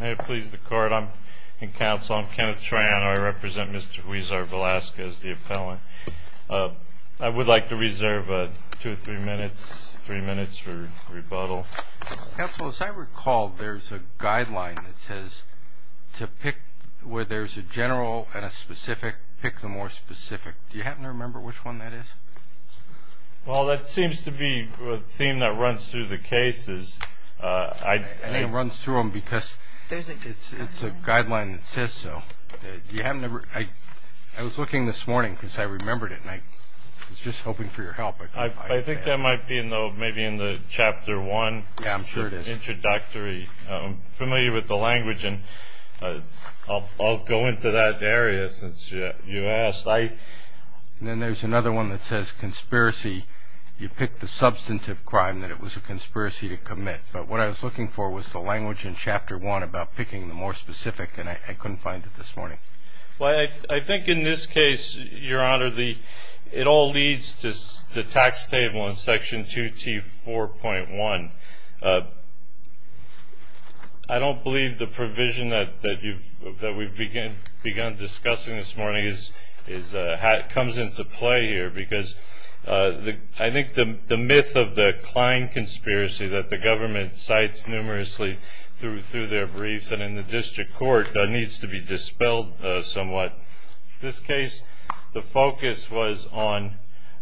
May it please the court, I'm in counsel. I'm Kenneth Traiano. I represent Mr. Huizar-Velazquez, the appellant. I would like to reserve two or three minutes, three minutes for rebuttal. Counsel, as I recall, there's a guideline that says to pick where there's a general and a specific, pick the more specific. Do you happen to remember which one that is? Well, that seems to be a theme that runs through the cases. And it runs through them because it's a guideline that says so. I was looking this morning because I remembered it, and I was just hoping for your help. I think that might be maybe in the Chapter 1 introductory. Yeah, I'm sure it is. I'm familiar with the language, and I'll go into that area since you asked. Then there's another one that says conspiracy. You pick the substantive crime that it was a conspiracy to commit. But what I was looking for was the language in Chapter 1 about picking the more specific, and I couldn't find it this morning. Well, I think in this case, Your Honor, it all leads to the tax table in Section 2T4.1. I don't believe the provision that we've begun discussing this morning comes into play here because I think the myth of the Klein conspiracy that the government cites numerously through their briefs and in the district court needs to be dispelled somewhat. In this case, the focus was on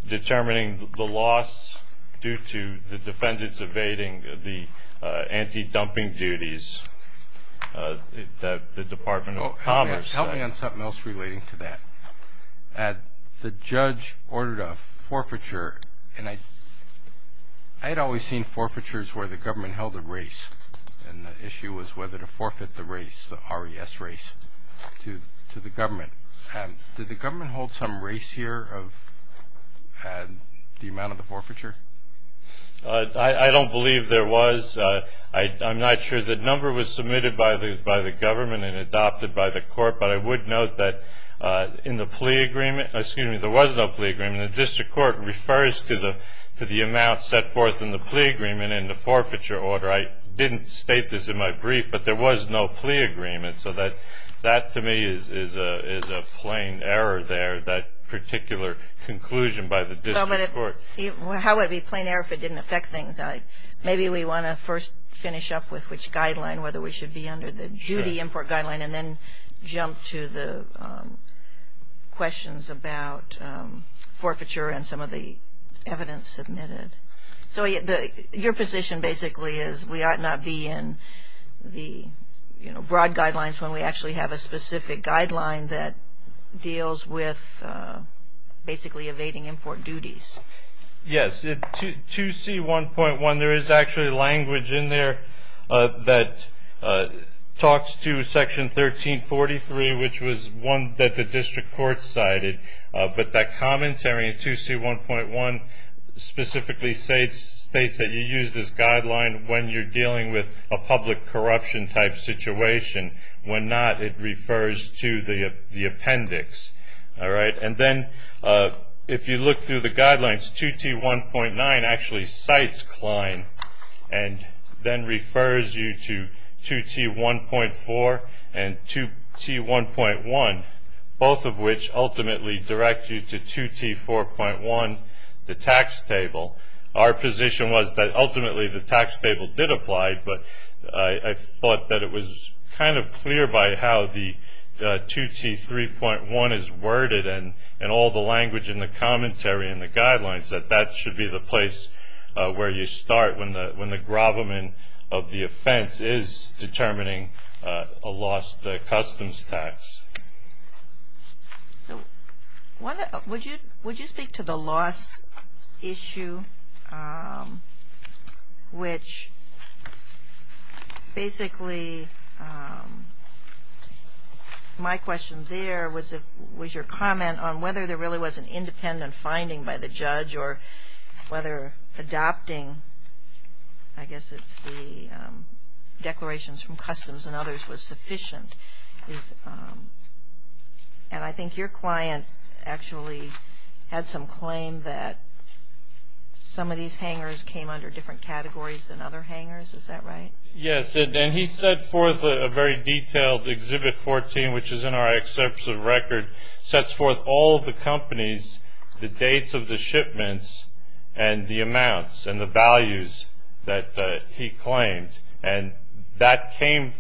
determining the loss due to the defendants evading the anti-dumping duties that the Department of Commerce said. Help me on something else relating to that. The judge ordered a forfeiture, and I had always seen forfeitures where the government held a race, and the issue was whether to forfeit the race, the R.E.S. race, to the government. Did the government hold some race here of the amount of the forfeiture? I don't believe there was. I'm not sure. The number was submitted by the government and adopted by the court, but I would note that in the plea agreement, excuse me, there was no plea agreement. The district court refers to the amount set forth in the plea agreement in the forfeiture order. I didn't state this in my brief, but there was no plea agreement. So that to me is a plain error there, that particular conclusion by the district court. How would it be a plain error if it didn't affect things? Maybe we want to first finish up with which guideline, whether we should be under the duty import guideline, and then jump to the questions about forfeiture and some of the evidence submitted. So your position basically is we ought not be in the broad guidelines when we actually have a specific guideline that deals with basically evading import duties. Yes. 2C1.1, there is actually language in there that talks to Section 1343, which was one that the district court cited, but that commentary in 2C1.1 specifically states that you use this guideline when you're dealing with a public corruption type situation. When not, it refers to the appendix. And then if you look through the guidelines, 2T1.9 actually cites Klein and then refers you to 2T1.4 and 2T1.1, both of which ultimately direct you to 2T4.1, the tax table. Our position was that ultimately the tax table did apply, but I thought that it was kind of clear by how the 2T3.1 is worded and all the language in the commentary in the guidelines that that should be the place where you start when the gravamen of the offense is determining a lost customs tax. So would you speak to the loss issue, which basically my question there was your comment on whether there really was an independent finding by the judge or whether adopting, I guess it's the declarations from customs and others was sufficient. And I think your client actually had some claim that some of these hangers came under different categories than other hangers. Is that right? Yes, and he set forth a very detailed Exhibit 14, which is in our excerpts of record, sets forth all of the companies, the dates of the shipments and the amounts and the values that he claimed. And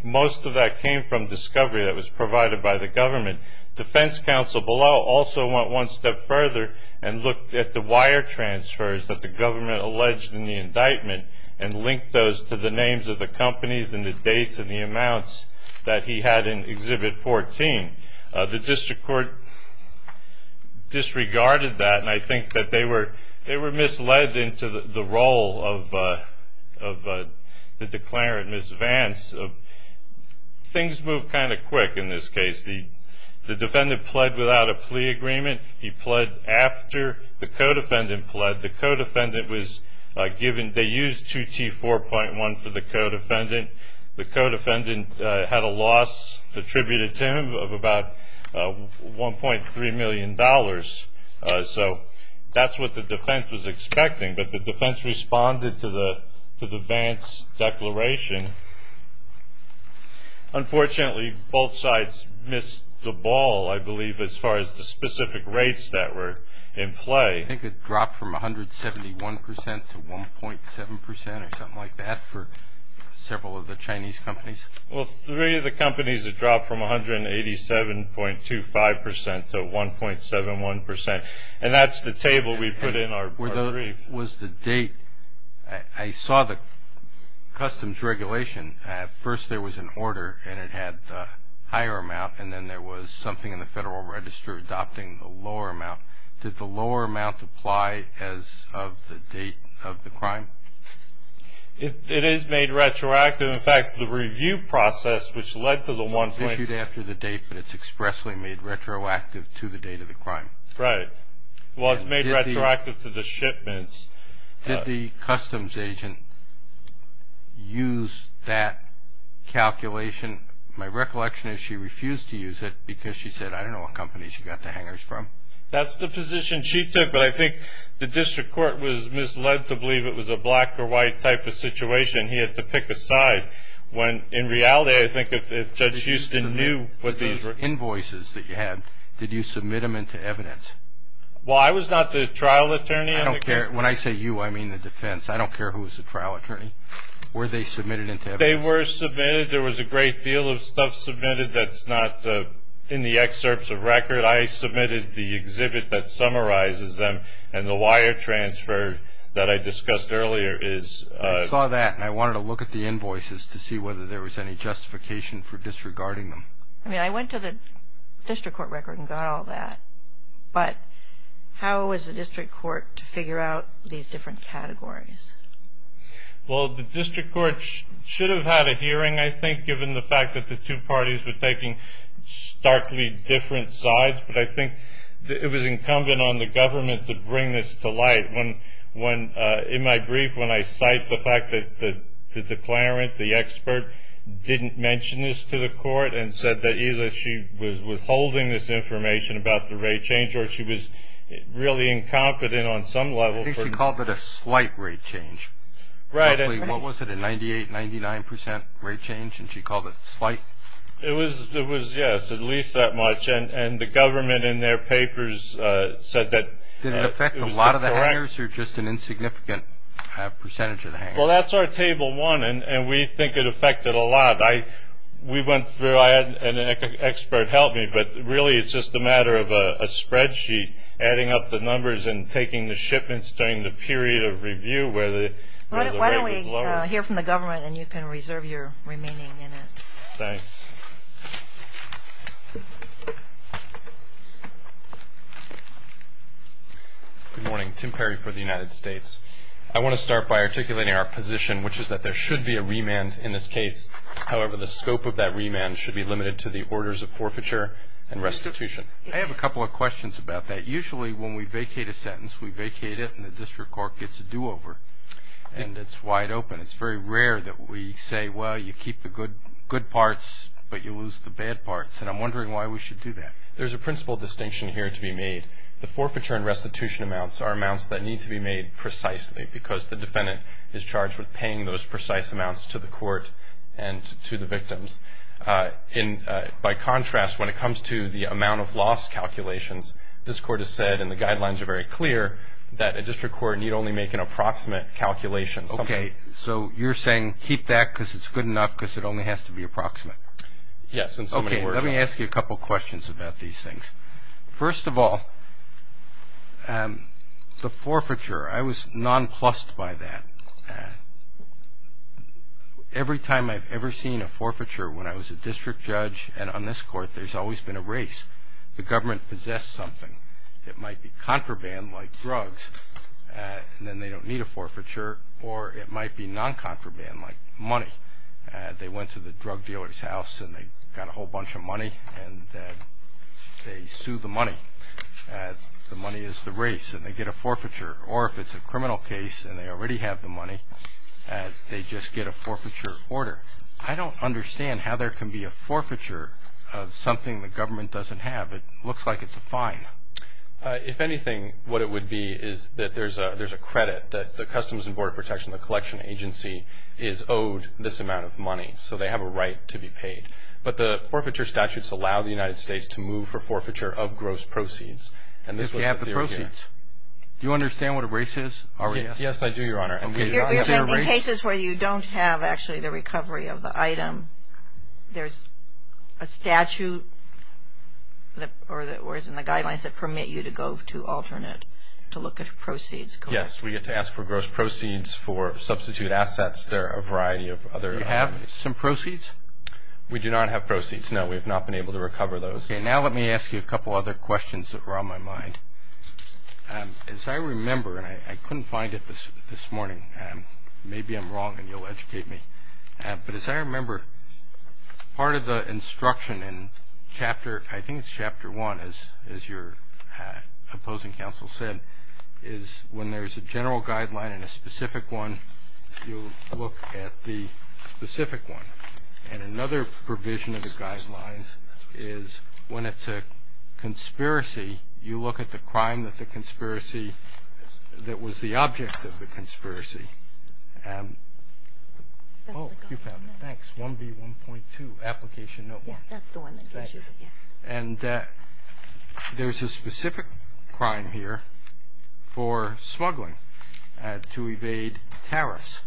most of that came from discovery that was provided by the government. Defense counsel below also went one step further and looked at the wire transfers that the government alleged in the indictment and linked those to the names of the companies and the dates and the amounts that he had in Exhibit 14. The district court disregarded that, and I think that they were misled into the role of the declarant, Ms. Vance. Things moved kind of quick in this case. The defendant pled without a plea agreement. He pled after the co-defendant pled. They used 2T4.1 for the co-defendant. The co-defendant had a loss attributed to him of about $1.3 million. So that's what the defense was expecting, but the defense responded to the Vance declaration. Unfortunately, both sides missed the ball, I believe, as far as the specific rates that were in play. I think it dropped from 171 percent to 1.7 percent or something like that for several of the Chinese companies. Well, three of the companies, it dropped from 187.25 percent to 1.71 percent, and that's the table we put in our brief. Was the date. I saw the customs regulation. At first there was an order, and it had the higher amount, and then there was something in the Federal Register adopting the lower amount. Did the lower amount apply as of the date of the crime? It is made retroactive. In fact, the review process, which led to the one point. It's issued after the date, but it's expressly made retroactive to the date of the crime. Right. Well, it's made retroactive to the shipments. Did the customs agent use that calculation? My recollection is she refused to use it because she said, I don't know what companies she got the hangers from. That's the position she took, but I think the district court was misled to believe it was a black or white type of situation. He had to pick a side when, in reality, I think if Judge Houston knew what these were. The invoices that you had, did you submit them into evidence? Well, I was not the trial attorney. I don't care. When I say you, I mean the defense. I don't care who was the trial attorney. Were they submitted into evidence? They were submitted. There was a great deal of stuff submitted that's not in the excerpts of record. I submitted the exhibit that summarizes them, and the wire transfer that I discussed earlier is... I saw that, and I wanted to look at the invoices to see whether there was any justification for disregarding them. I mean, I went to the district court record and got all that, but how was the district court to figure out these different categories? Well, the district court should have had a hearing, I think, given the fact that the two parties were taking starkly different sides, but I think it was incumbent on the government to bring this to light. In my brief, when I cite the fact that the declarant, the expert, didn't mention this to the court and said that either she was withholding this information about the rate change or she was really incompetent on some level... She called it a slight rate change. Right. What was it, a 98%, 99% rate change, and she called it slight? It was, yes, at least that much, and the government in their papers said that... Did it affect a lot of the hangers or just an insignificant percentage of the hangers? Well, that's our table one, and we think it affected a lot. We went through, and an expert helped me, but really it's just a matter of a spreadsheet adding up the numbers and taking the shipments during the period of review where the rate was lower. Why don't we hear from the government, and you can reserve your remaining minute. Thanks. Good morning. Tim Perry for the United States. I want to start by articulating our position, which is that there should be a remand in this case. However, the scope of that remand should be limited to the orders of forfeiture and restitution. I have a couple of questions about that. Usually when we vacate a sentence, we vacate it and the district court gets a do-over, and it's wide open. It's very rare that we say, well, you keep the good parts, but you lose the bad parts, and I'm wondering why we should do that. There's a principal distinction here to be made. The forfeiture and restitution amounts are amounts that need to be made precisely because the defendant is charged with paying those precise amounts to the court and to the victims. By contrast, when it comes to the amount of loss calculations, this court has said, and the guidelines are very clear, that a district court need only make an approximate calculation. Okay. So you're saying keep that because it's good enough because it only has to be approximate. Yes. Okay. Let me ask you a couple of questions about these things. First of all, the forfeiture, I was nonplussed by that. Every time I've ever seen a forfeiture, when I was a district judge and on this court, there's always been a race. The government possesses something. It might be contraband like drugs, and then they don't need a forfeiture, or it might be noncontraband like money. They went to the drug dealer's house and they got a whole bunch of money, and they sued the money. The money is the race, and they get a forfeiture. Or if it's a criminal case and they already have the money, they just get a forfeiture order. I don't understand how there can be a forfeiture of something the government doesn't have. It looks like it's a fine. If anything, what it would be is that there's a credit that the Customs and Border Protection, the collection agency, is owed this amount of money, so they have a right to be paid. But the forfeiture statutes allow the United States to move for forfeiture of gross proceeds, and this was the theory here. If they have the proceeds. Do you understand what a race is? Yes, I do, Your Honor. In cases where you don't have actually the recovery of the item, there's a statute or it's in the guidelines that permit you to go to alternate to look at proceeds. Yes. We get to ask for gross proceeds for substitute assets. There are a variety of other. Do you have some proceeds? We do not have proceeds, no. We have not been able to recover those. Okay, now let me ask you a couple other questions that were on my mind. As I remember, and I couldn't find it this morning, maybe I'm wrong and you'll educate me. But as I remember, part of the instruction in Chapter, I think it's Chapter 1, as your opposing counsel said, is when there's a general guideline and a specific one, you look at the specific one. And another provision of the guidelines is when it's a conspiracy, you look at the crime that the conspiracy, that was the object of the conspiracy. Oh, you found it. Thanks. 1B1.2, Application Notebook. Yes, that's the one that gives you that. And there's a specific crime here for smuggling to evade tariffs.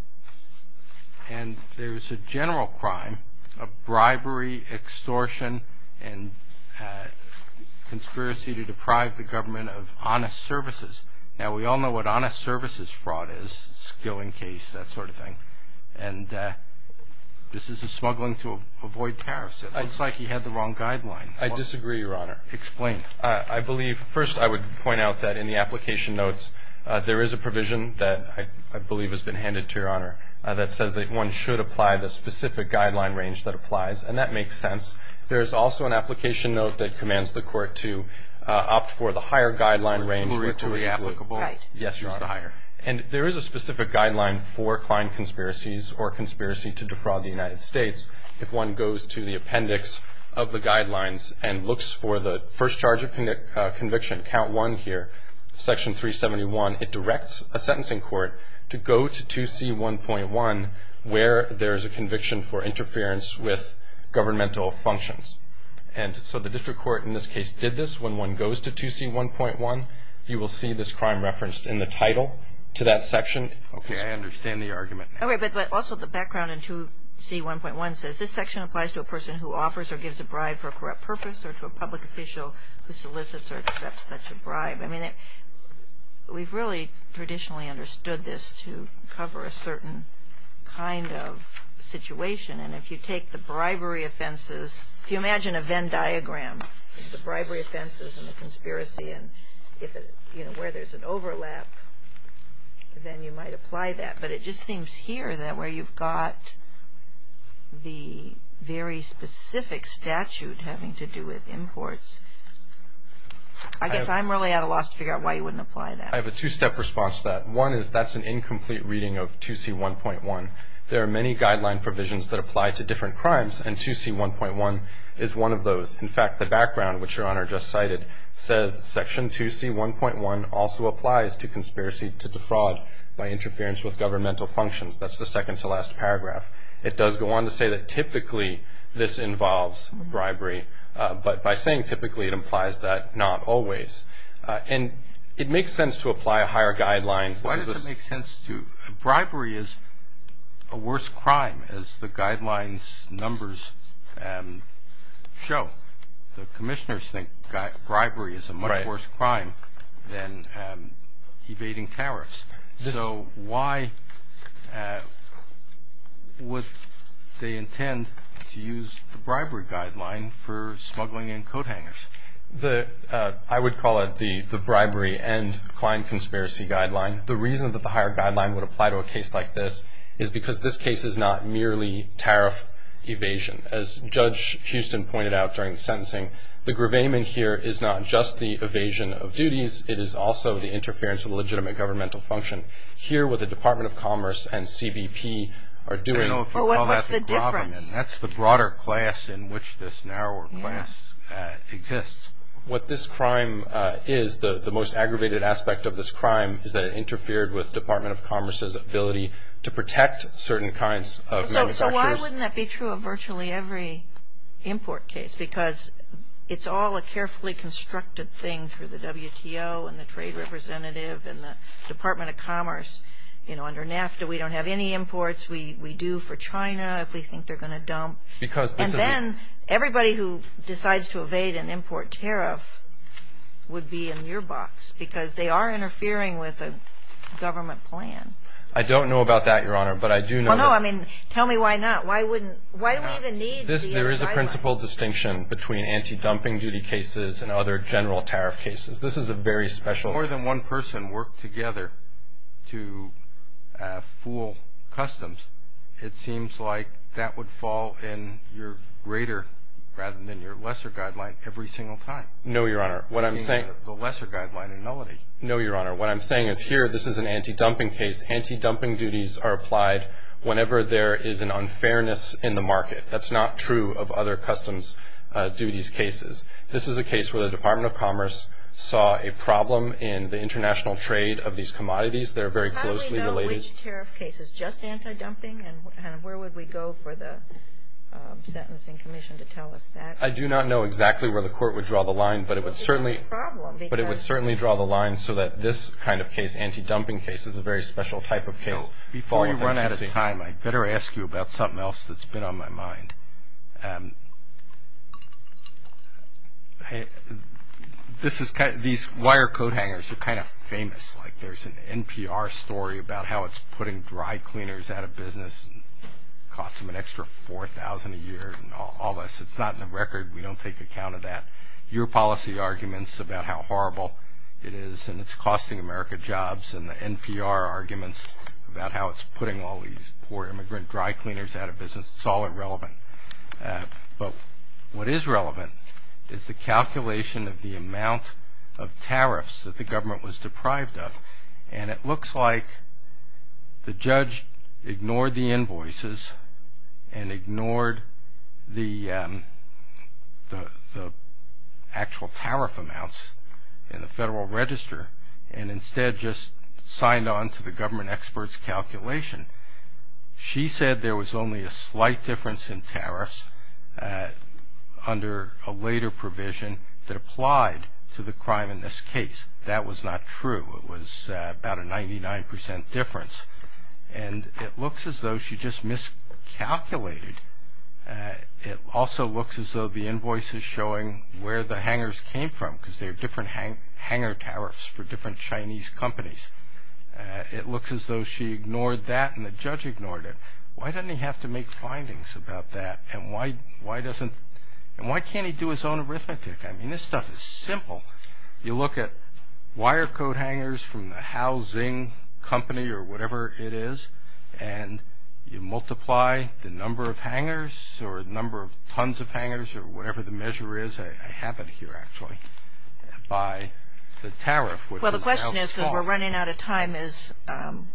And there's a general crime of bribery, extortion, and conspiracy to deprive the government of honest services. Now, we all know what honest services fraud is, skill in case, that sort of thing. And this is a smuggling to avoid tariffs. It looks like you had the wrong guideline. I disagree, Your Honor. Explain. I believe, first I would point out that in the application notes, there is a provision that I believe has been handed to Your Honor that says that one should apply the specific guideline range that applies. And that makes sense. There's also an application note that commands the court to opt for the higher guideline range. More equally applicable. Right. Yes, Your Honor. And there is a specific guideline for client conspiracies or conspiracy to defraud the United States. If one goes to the appendix of the guidelines and looks for the first charge of conviction, count one here, section 371, it directs a sentencing court to go to 2C1.1, where there is a conviction for interference with governmental functions. And so the district court in this case did this. When one goes to 2C1.1, you will see this crime referenced in the title to that section. Okay. I understand the argument. All right. But also the background in 2C1.1 says, this section applies to a person who offers or gives a bribe for a corrupt purpose or to a public official who solicits or accepts such a bribe. I mean, we've really traditionally understood this to cover a certain kind of situation. And if you take the bribery offenses, if you imagine a Venn diagram of the bribery offenses and the conspiracy and where there's an overlap, then you might apply that. But it just seems here that where you've got the very specific statute having to do with imports, I guess I'm really at a loss to figure out why you wouldn't apply that. I have a two-step response to that. One is that's an incomplete reading of 2C1.1. There are many guideline provisions that apply to different crimes, and 2C1.1 is one of those. In fact, the background, which Your Honor just cited, says Section 2C1.1 also applies to conspiracy to defraud by interference with governmental functions. That's the second-to-last paragraph. It does go on to say that typically this involves bribery. But by saying typically, it implies that not always. And it makes sense to apply a higher guideline. Why does it make sense to? Bribery is a worse crime, as the guidelines numbers show. The commissioners think bribery is a much worse crime than evading tariffs. So why would they intend to use the bribery guideline for smuggling in coat hangers? I would call it the bribery and client conspiracy guideline. The reason that the higher guideline would apply to a case like this is because this case is not merely tariff evasion. As Judge Huston pointed out during the sentencing, the gravamen here is not just the evasion of duties. It is also the interference with legitimate governmental function. Here what the Department of Commerce and CBP are doing. But what's the difference? That's the broader class in which this narrower class exists. What this crime is, the most aggravated aspect of this crime, is that it interfered with Department of Commerce's ability to protect certain kinds of manufacturers. So why wouldn't that be true of virtually every import case? Because it's all a carefully constructed thing through the WTO and the trade representative and the Department of Commerce. You know, under NAFTA, we don't have any imports. We do for China if we think they're going to dump. And then everybody who decides to evade an import tariff would be in your box because they are interfering with a government plan. I don't know about that, Your Honor. Well, no. I mean, tell me why not. Why do we even need these guidelines? There is a principle distinction between anti-dumping duty cases and other general tariff cases. This is a very special one. If more than one person worked together to fool customs, it seems like that would fall in your greater rather than your lesser guideline every single time. No, Your Honor. What I'm saying is here this is an anti-dumping case. Anti-dumping duties are applied whenever there is an unfairness in the market. That's not true of other customs duties cases. This is a case where the Department of Commerce saw a problem in the international trade of these commodities. They're very closely related. How do we know which tariff case is just anti-dumping and where would we go for the Sentencing Commission to tell us that? I do not know exactly where the Court would draw the line, but it would certainly draw the line so that this kind of case, anti-dumping case, is a very special type of case. Before you run out of time, I better ask you about something else that's been on my mind. These wire coat hangers are kind of famous. Like there's an NPR story about how it's putting dry cleaners out of business and costs them an extra $4,000 a year and all this. It's not in the record. We don't take account of that. Your policy arguments about how horrible it is and it's costing America jobs and the NPR arguments about how it's putting all these poor immigrant dry cleaners out of business, it's all irrelevant. But what is relevant is the calculation of the amount of tariffs that the government was deprived of. And it looks like the judge ignored the invoices and ignored the actual tariff amounts in the Federal Register and instead just signed on to the government expert's calculation. She said there was only a slight difference in tariffs under a later provision that applied to the crime in this case. That was not true. It was about a 99% difference. And it looks as though she just miscalculated. It also looks as though the invoice is showing where the hangers came from because they're different hanger tariffs for different Chinese companies. It looks as though she ignored that and the judge ignored it. Why doesn't he have to make findings about that? And why can't he do his own arithmetic? I mean, this stuff is simple. You look at wire code hangers from the housing company or whatever it is, and you multiply the number of hangers or the number of tons of hangers or whatever the measure is. I have it here, actually, by the tariff. Well, the question is, because we're running out of time,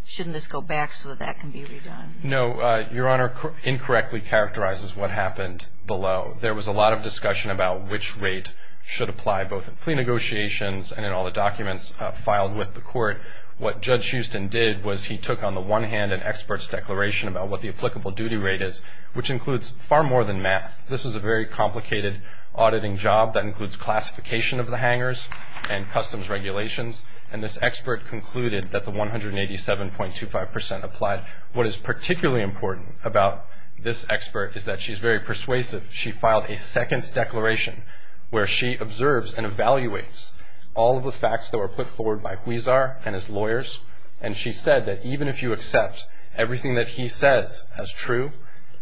shouldn't this go back so that that can be redone? No. Your Honor, incorrectly characterizes what happened below. There was a lot of discussion about which rate should apply, both in plea negotiations and in all the documents filed with the court. What Judge Houston did was he took on the one hand an expert's declaration about what the applicable duty rate is, which includes far more than math. This is a very complicated auditing job. That includes classification of the hangers and customs regulations. And this expert concluded that the 187.25% applied. What is particularly important about this expert is that she's very persuasive. She filed a second declaration where she observes and evaluates all of the facts that were put forward by Huizar and his lawyers. And she said that even if you accept everything that he says as true,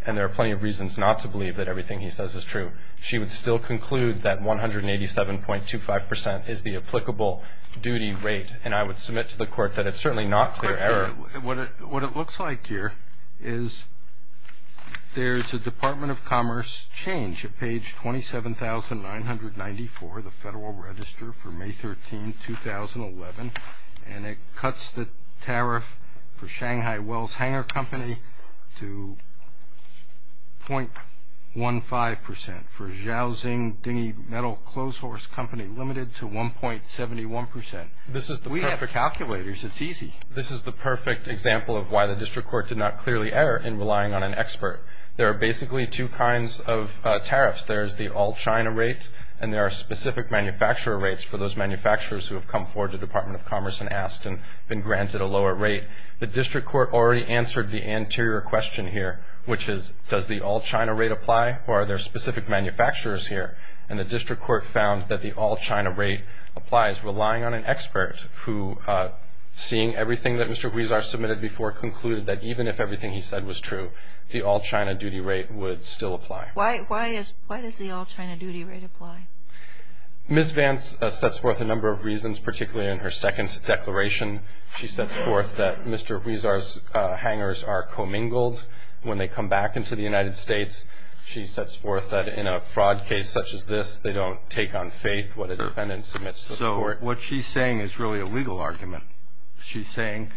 and there are plenty of reasons not to believe that everything he says is true, she would still conclude that 187.25% is the applicable duty rate. And I would submit to the Court that it's certainly not clear error. What it looks like here is there's a Department of Commerce change at page 27,994, the Federal Register for May 13, 2011, and it cuts the tariff for Shanghai Wells Hanger Company to .15% for Zhaoxing Dingy Metal Clothes Horse Company Limited to 1.71%. We have calculators. It's easy. This is the perfect example of why the District Court did not clearly err in relying on an expert. There are basically two kinds of tariffs. There is the all-China rate, and there are specific manufacturer rates for those manufacturers who have come forward to the Department of Commerce and asked and been granted a lower rate. The District Court already answered the anterior question here, which is does the all-China rate apply, or are there specific manufacturers here? And the District Court found that the all-China rate applies relying on an expert who, seeing everything that Mr. Huizar submitted before, concluded that even if everything he said was true, the all-China duty rate would still apply. Why does the all-China duty rate apply? Ms. Vance sets forth a number of reasons, particularly in her second declaration. She sets forth that Mr. Huizar's hangers are commingled when they come back into the United States. She sets forth that in a fraud case such as this, So what she's saying is really a legal argument. She's saying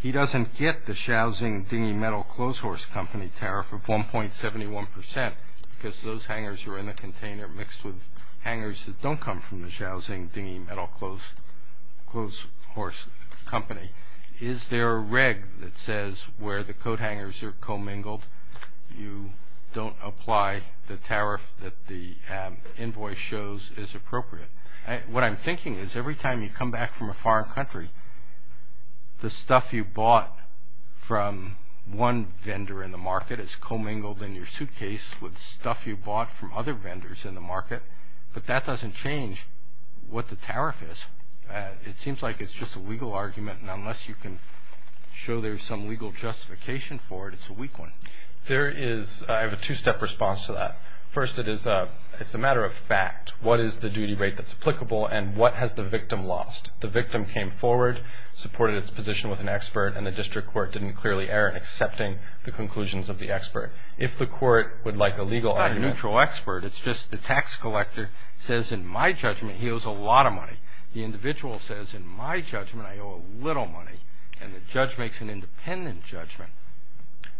he doesn't get the Schausing Dinghy Metal Clothes Horse Company tariff of 1.71 percent because those hangers are in the container mixed with hangers that don't come from the Schausing Dinghy Metal Clothes Horse Company. Is there a reg that says where the coat hangers are commingled, you don't apply the tariff that the invoice shows is appropriate? What I'm thinking is every time you come back from a foreign country, the stuff you bought from one vendor in the market is commingled in your suitcase with stuff you bought from other vendors in the market, but that doesn't change what the tariff is. It seems like it's just a legal argument, and unless you can show there's some legal justification for it, it's a weak one. I have a two-step response to that. First, it's a matter of fact. What is the duty rate that's applicable, and what has the victim lost? The victim came forward, supported its position with an expert, and the district court didn't clearly err in accepting the conclusions of the expert. If the court would like a legal argument... It's not a neutral expert. It's just the tax collector says, in my judgment, he owes a lot of money. The individual says, in my judgment, I owe a little money, and the judge makes an independent judgment.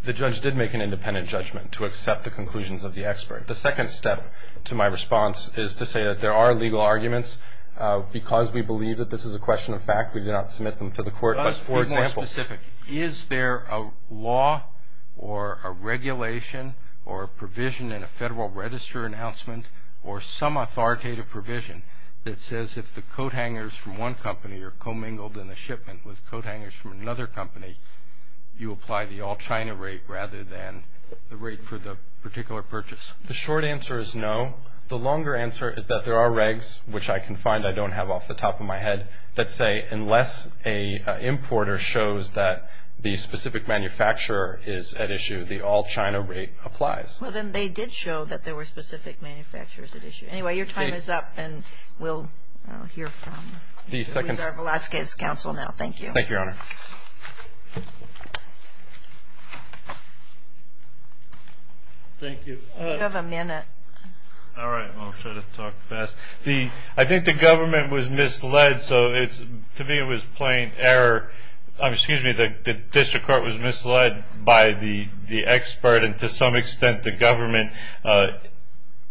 The judge did make an independent judgment to accept the conclusions of the expert. The second step to my response is to say that there are legal arguments. Because we believe that this is a question of fact, we do not submit them to the court. But for example... Let's be more specific. Is there a law or a regulation or a provision in a Federal Register announcement or some authoritative provision that says if the coat hangers from one company are commingled in a shipment with coat hangers from another company, you apply the all-China rate rather than the rate for the particular purchase? The short answer is no. The longer answer is that there are regs, which I can find I don't have off the top of my head, that say unless an importer shows that the specific manufacturer is at issue, the all-China rate applies. Well, then, they did show that there were specific manufacturers at issue. Anyway, your time is up, and we'll hear from... The second... We'll hear from Alaska's counsel now. Thank you. Thank you, Your Honor. Thank you. You have a minute. All right. I'll try to talk fast. I think the government was misled, so to me it was plain error. Excuse me. The district court was misled by the expert and to some extent the government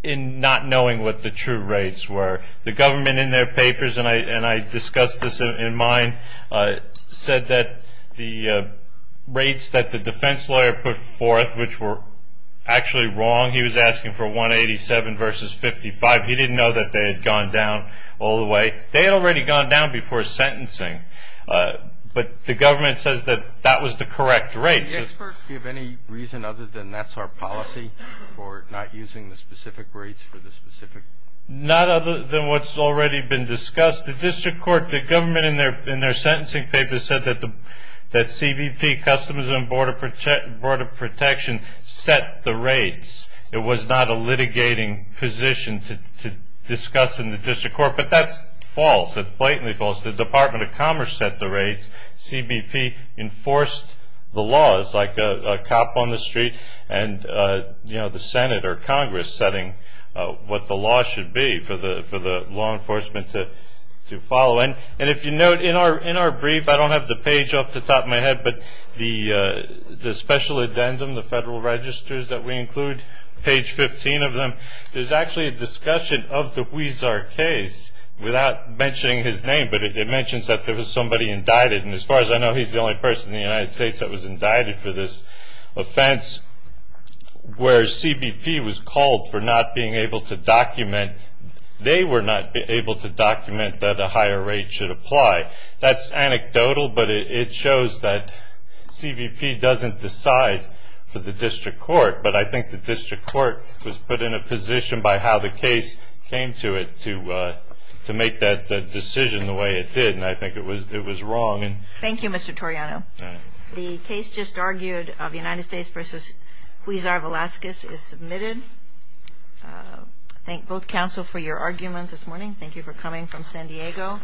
in not knowing what the true rates were. The government in their papers, and I discussed this in mine, said that the rates that the defense lawyer put forth, which were actually wrong, he was asking for 187 versus 55. He didn't know that they had gone down all the way. They had already gone down before sentencing, but the government says that that was the correct rate. Do the experts give any reason other than that's our policy for not using the specific rates for the specific... Not other than what's already been discussed. The district court, the government in their sentencing papers, said that CBP, Customs and Border Protection, set the rates. It was not a litigating position to discuss in the district court, but that's false. That's blatantly false. The Department of Commerce set the rates. CBP enforced the laws like a cop on the street and the Senate or Congress setting what the law should be for the law enforcement to follow. If you note, in our brief, I don't have the page off the top of my head, but the special addendum, the federal registers that we include, page 15 of them, there's actually a discussion of the Huizar case without mentioning his name, but it mentions that there was somebody indicted. As far as I know, he's the only person in the United States that was indicted for this offense, where CBP was called for not being able to document. They were not able to document that a higher rate should apply. That's anecdotal, but it shows that CBP doesn't decide for the district court, but I think the district court was put in a position by how the case came to it to make that decision the way it did, and I think it was wrong. Thank you, Mr. Torriano. The case just argued of United States v. Huizar Velazquez is submitted. Thank both counsel for your argument this morning. Thank you for coming from San Diego.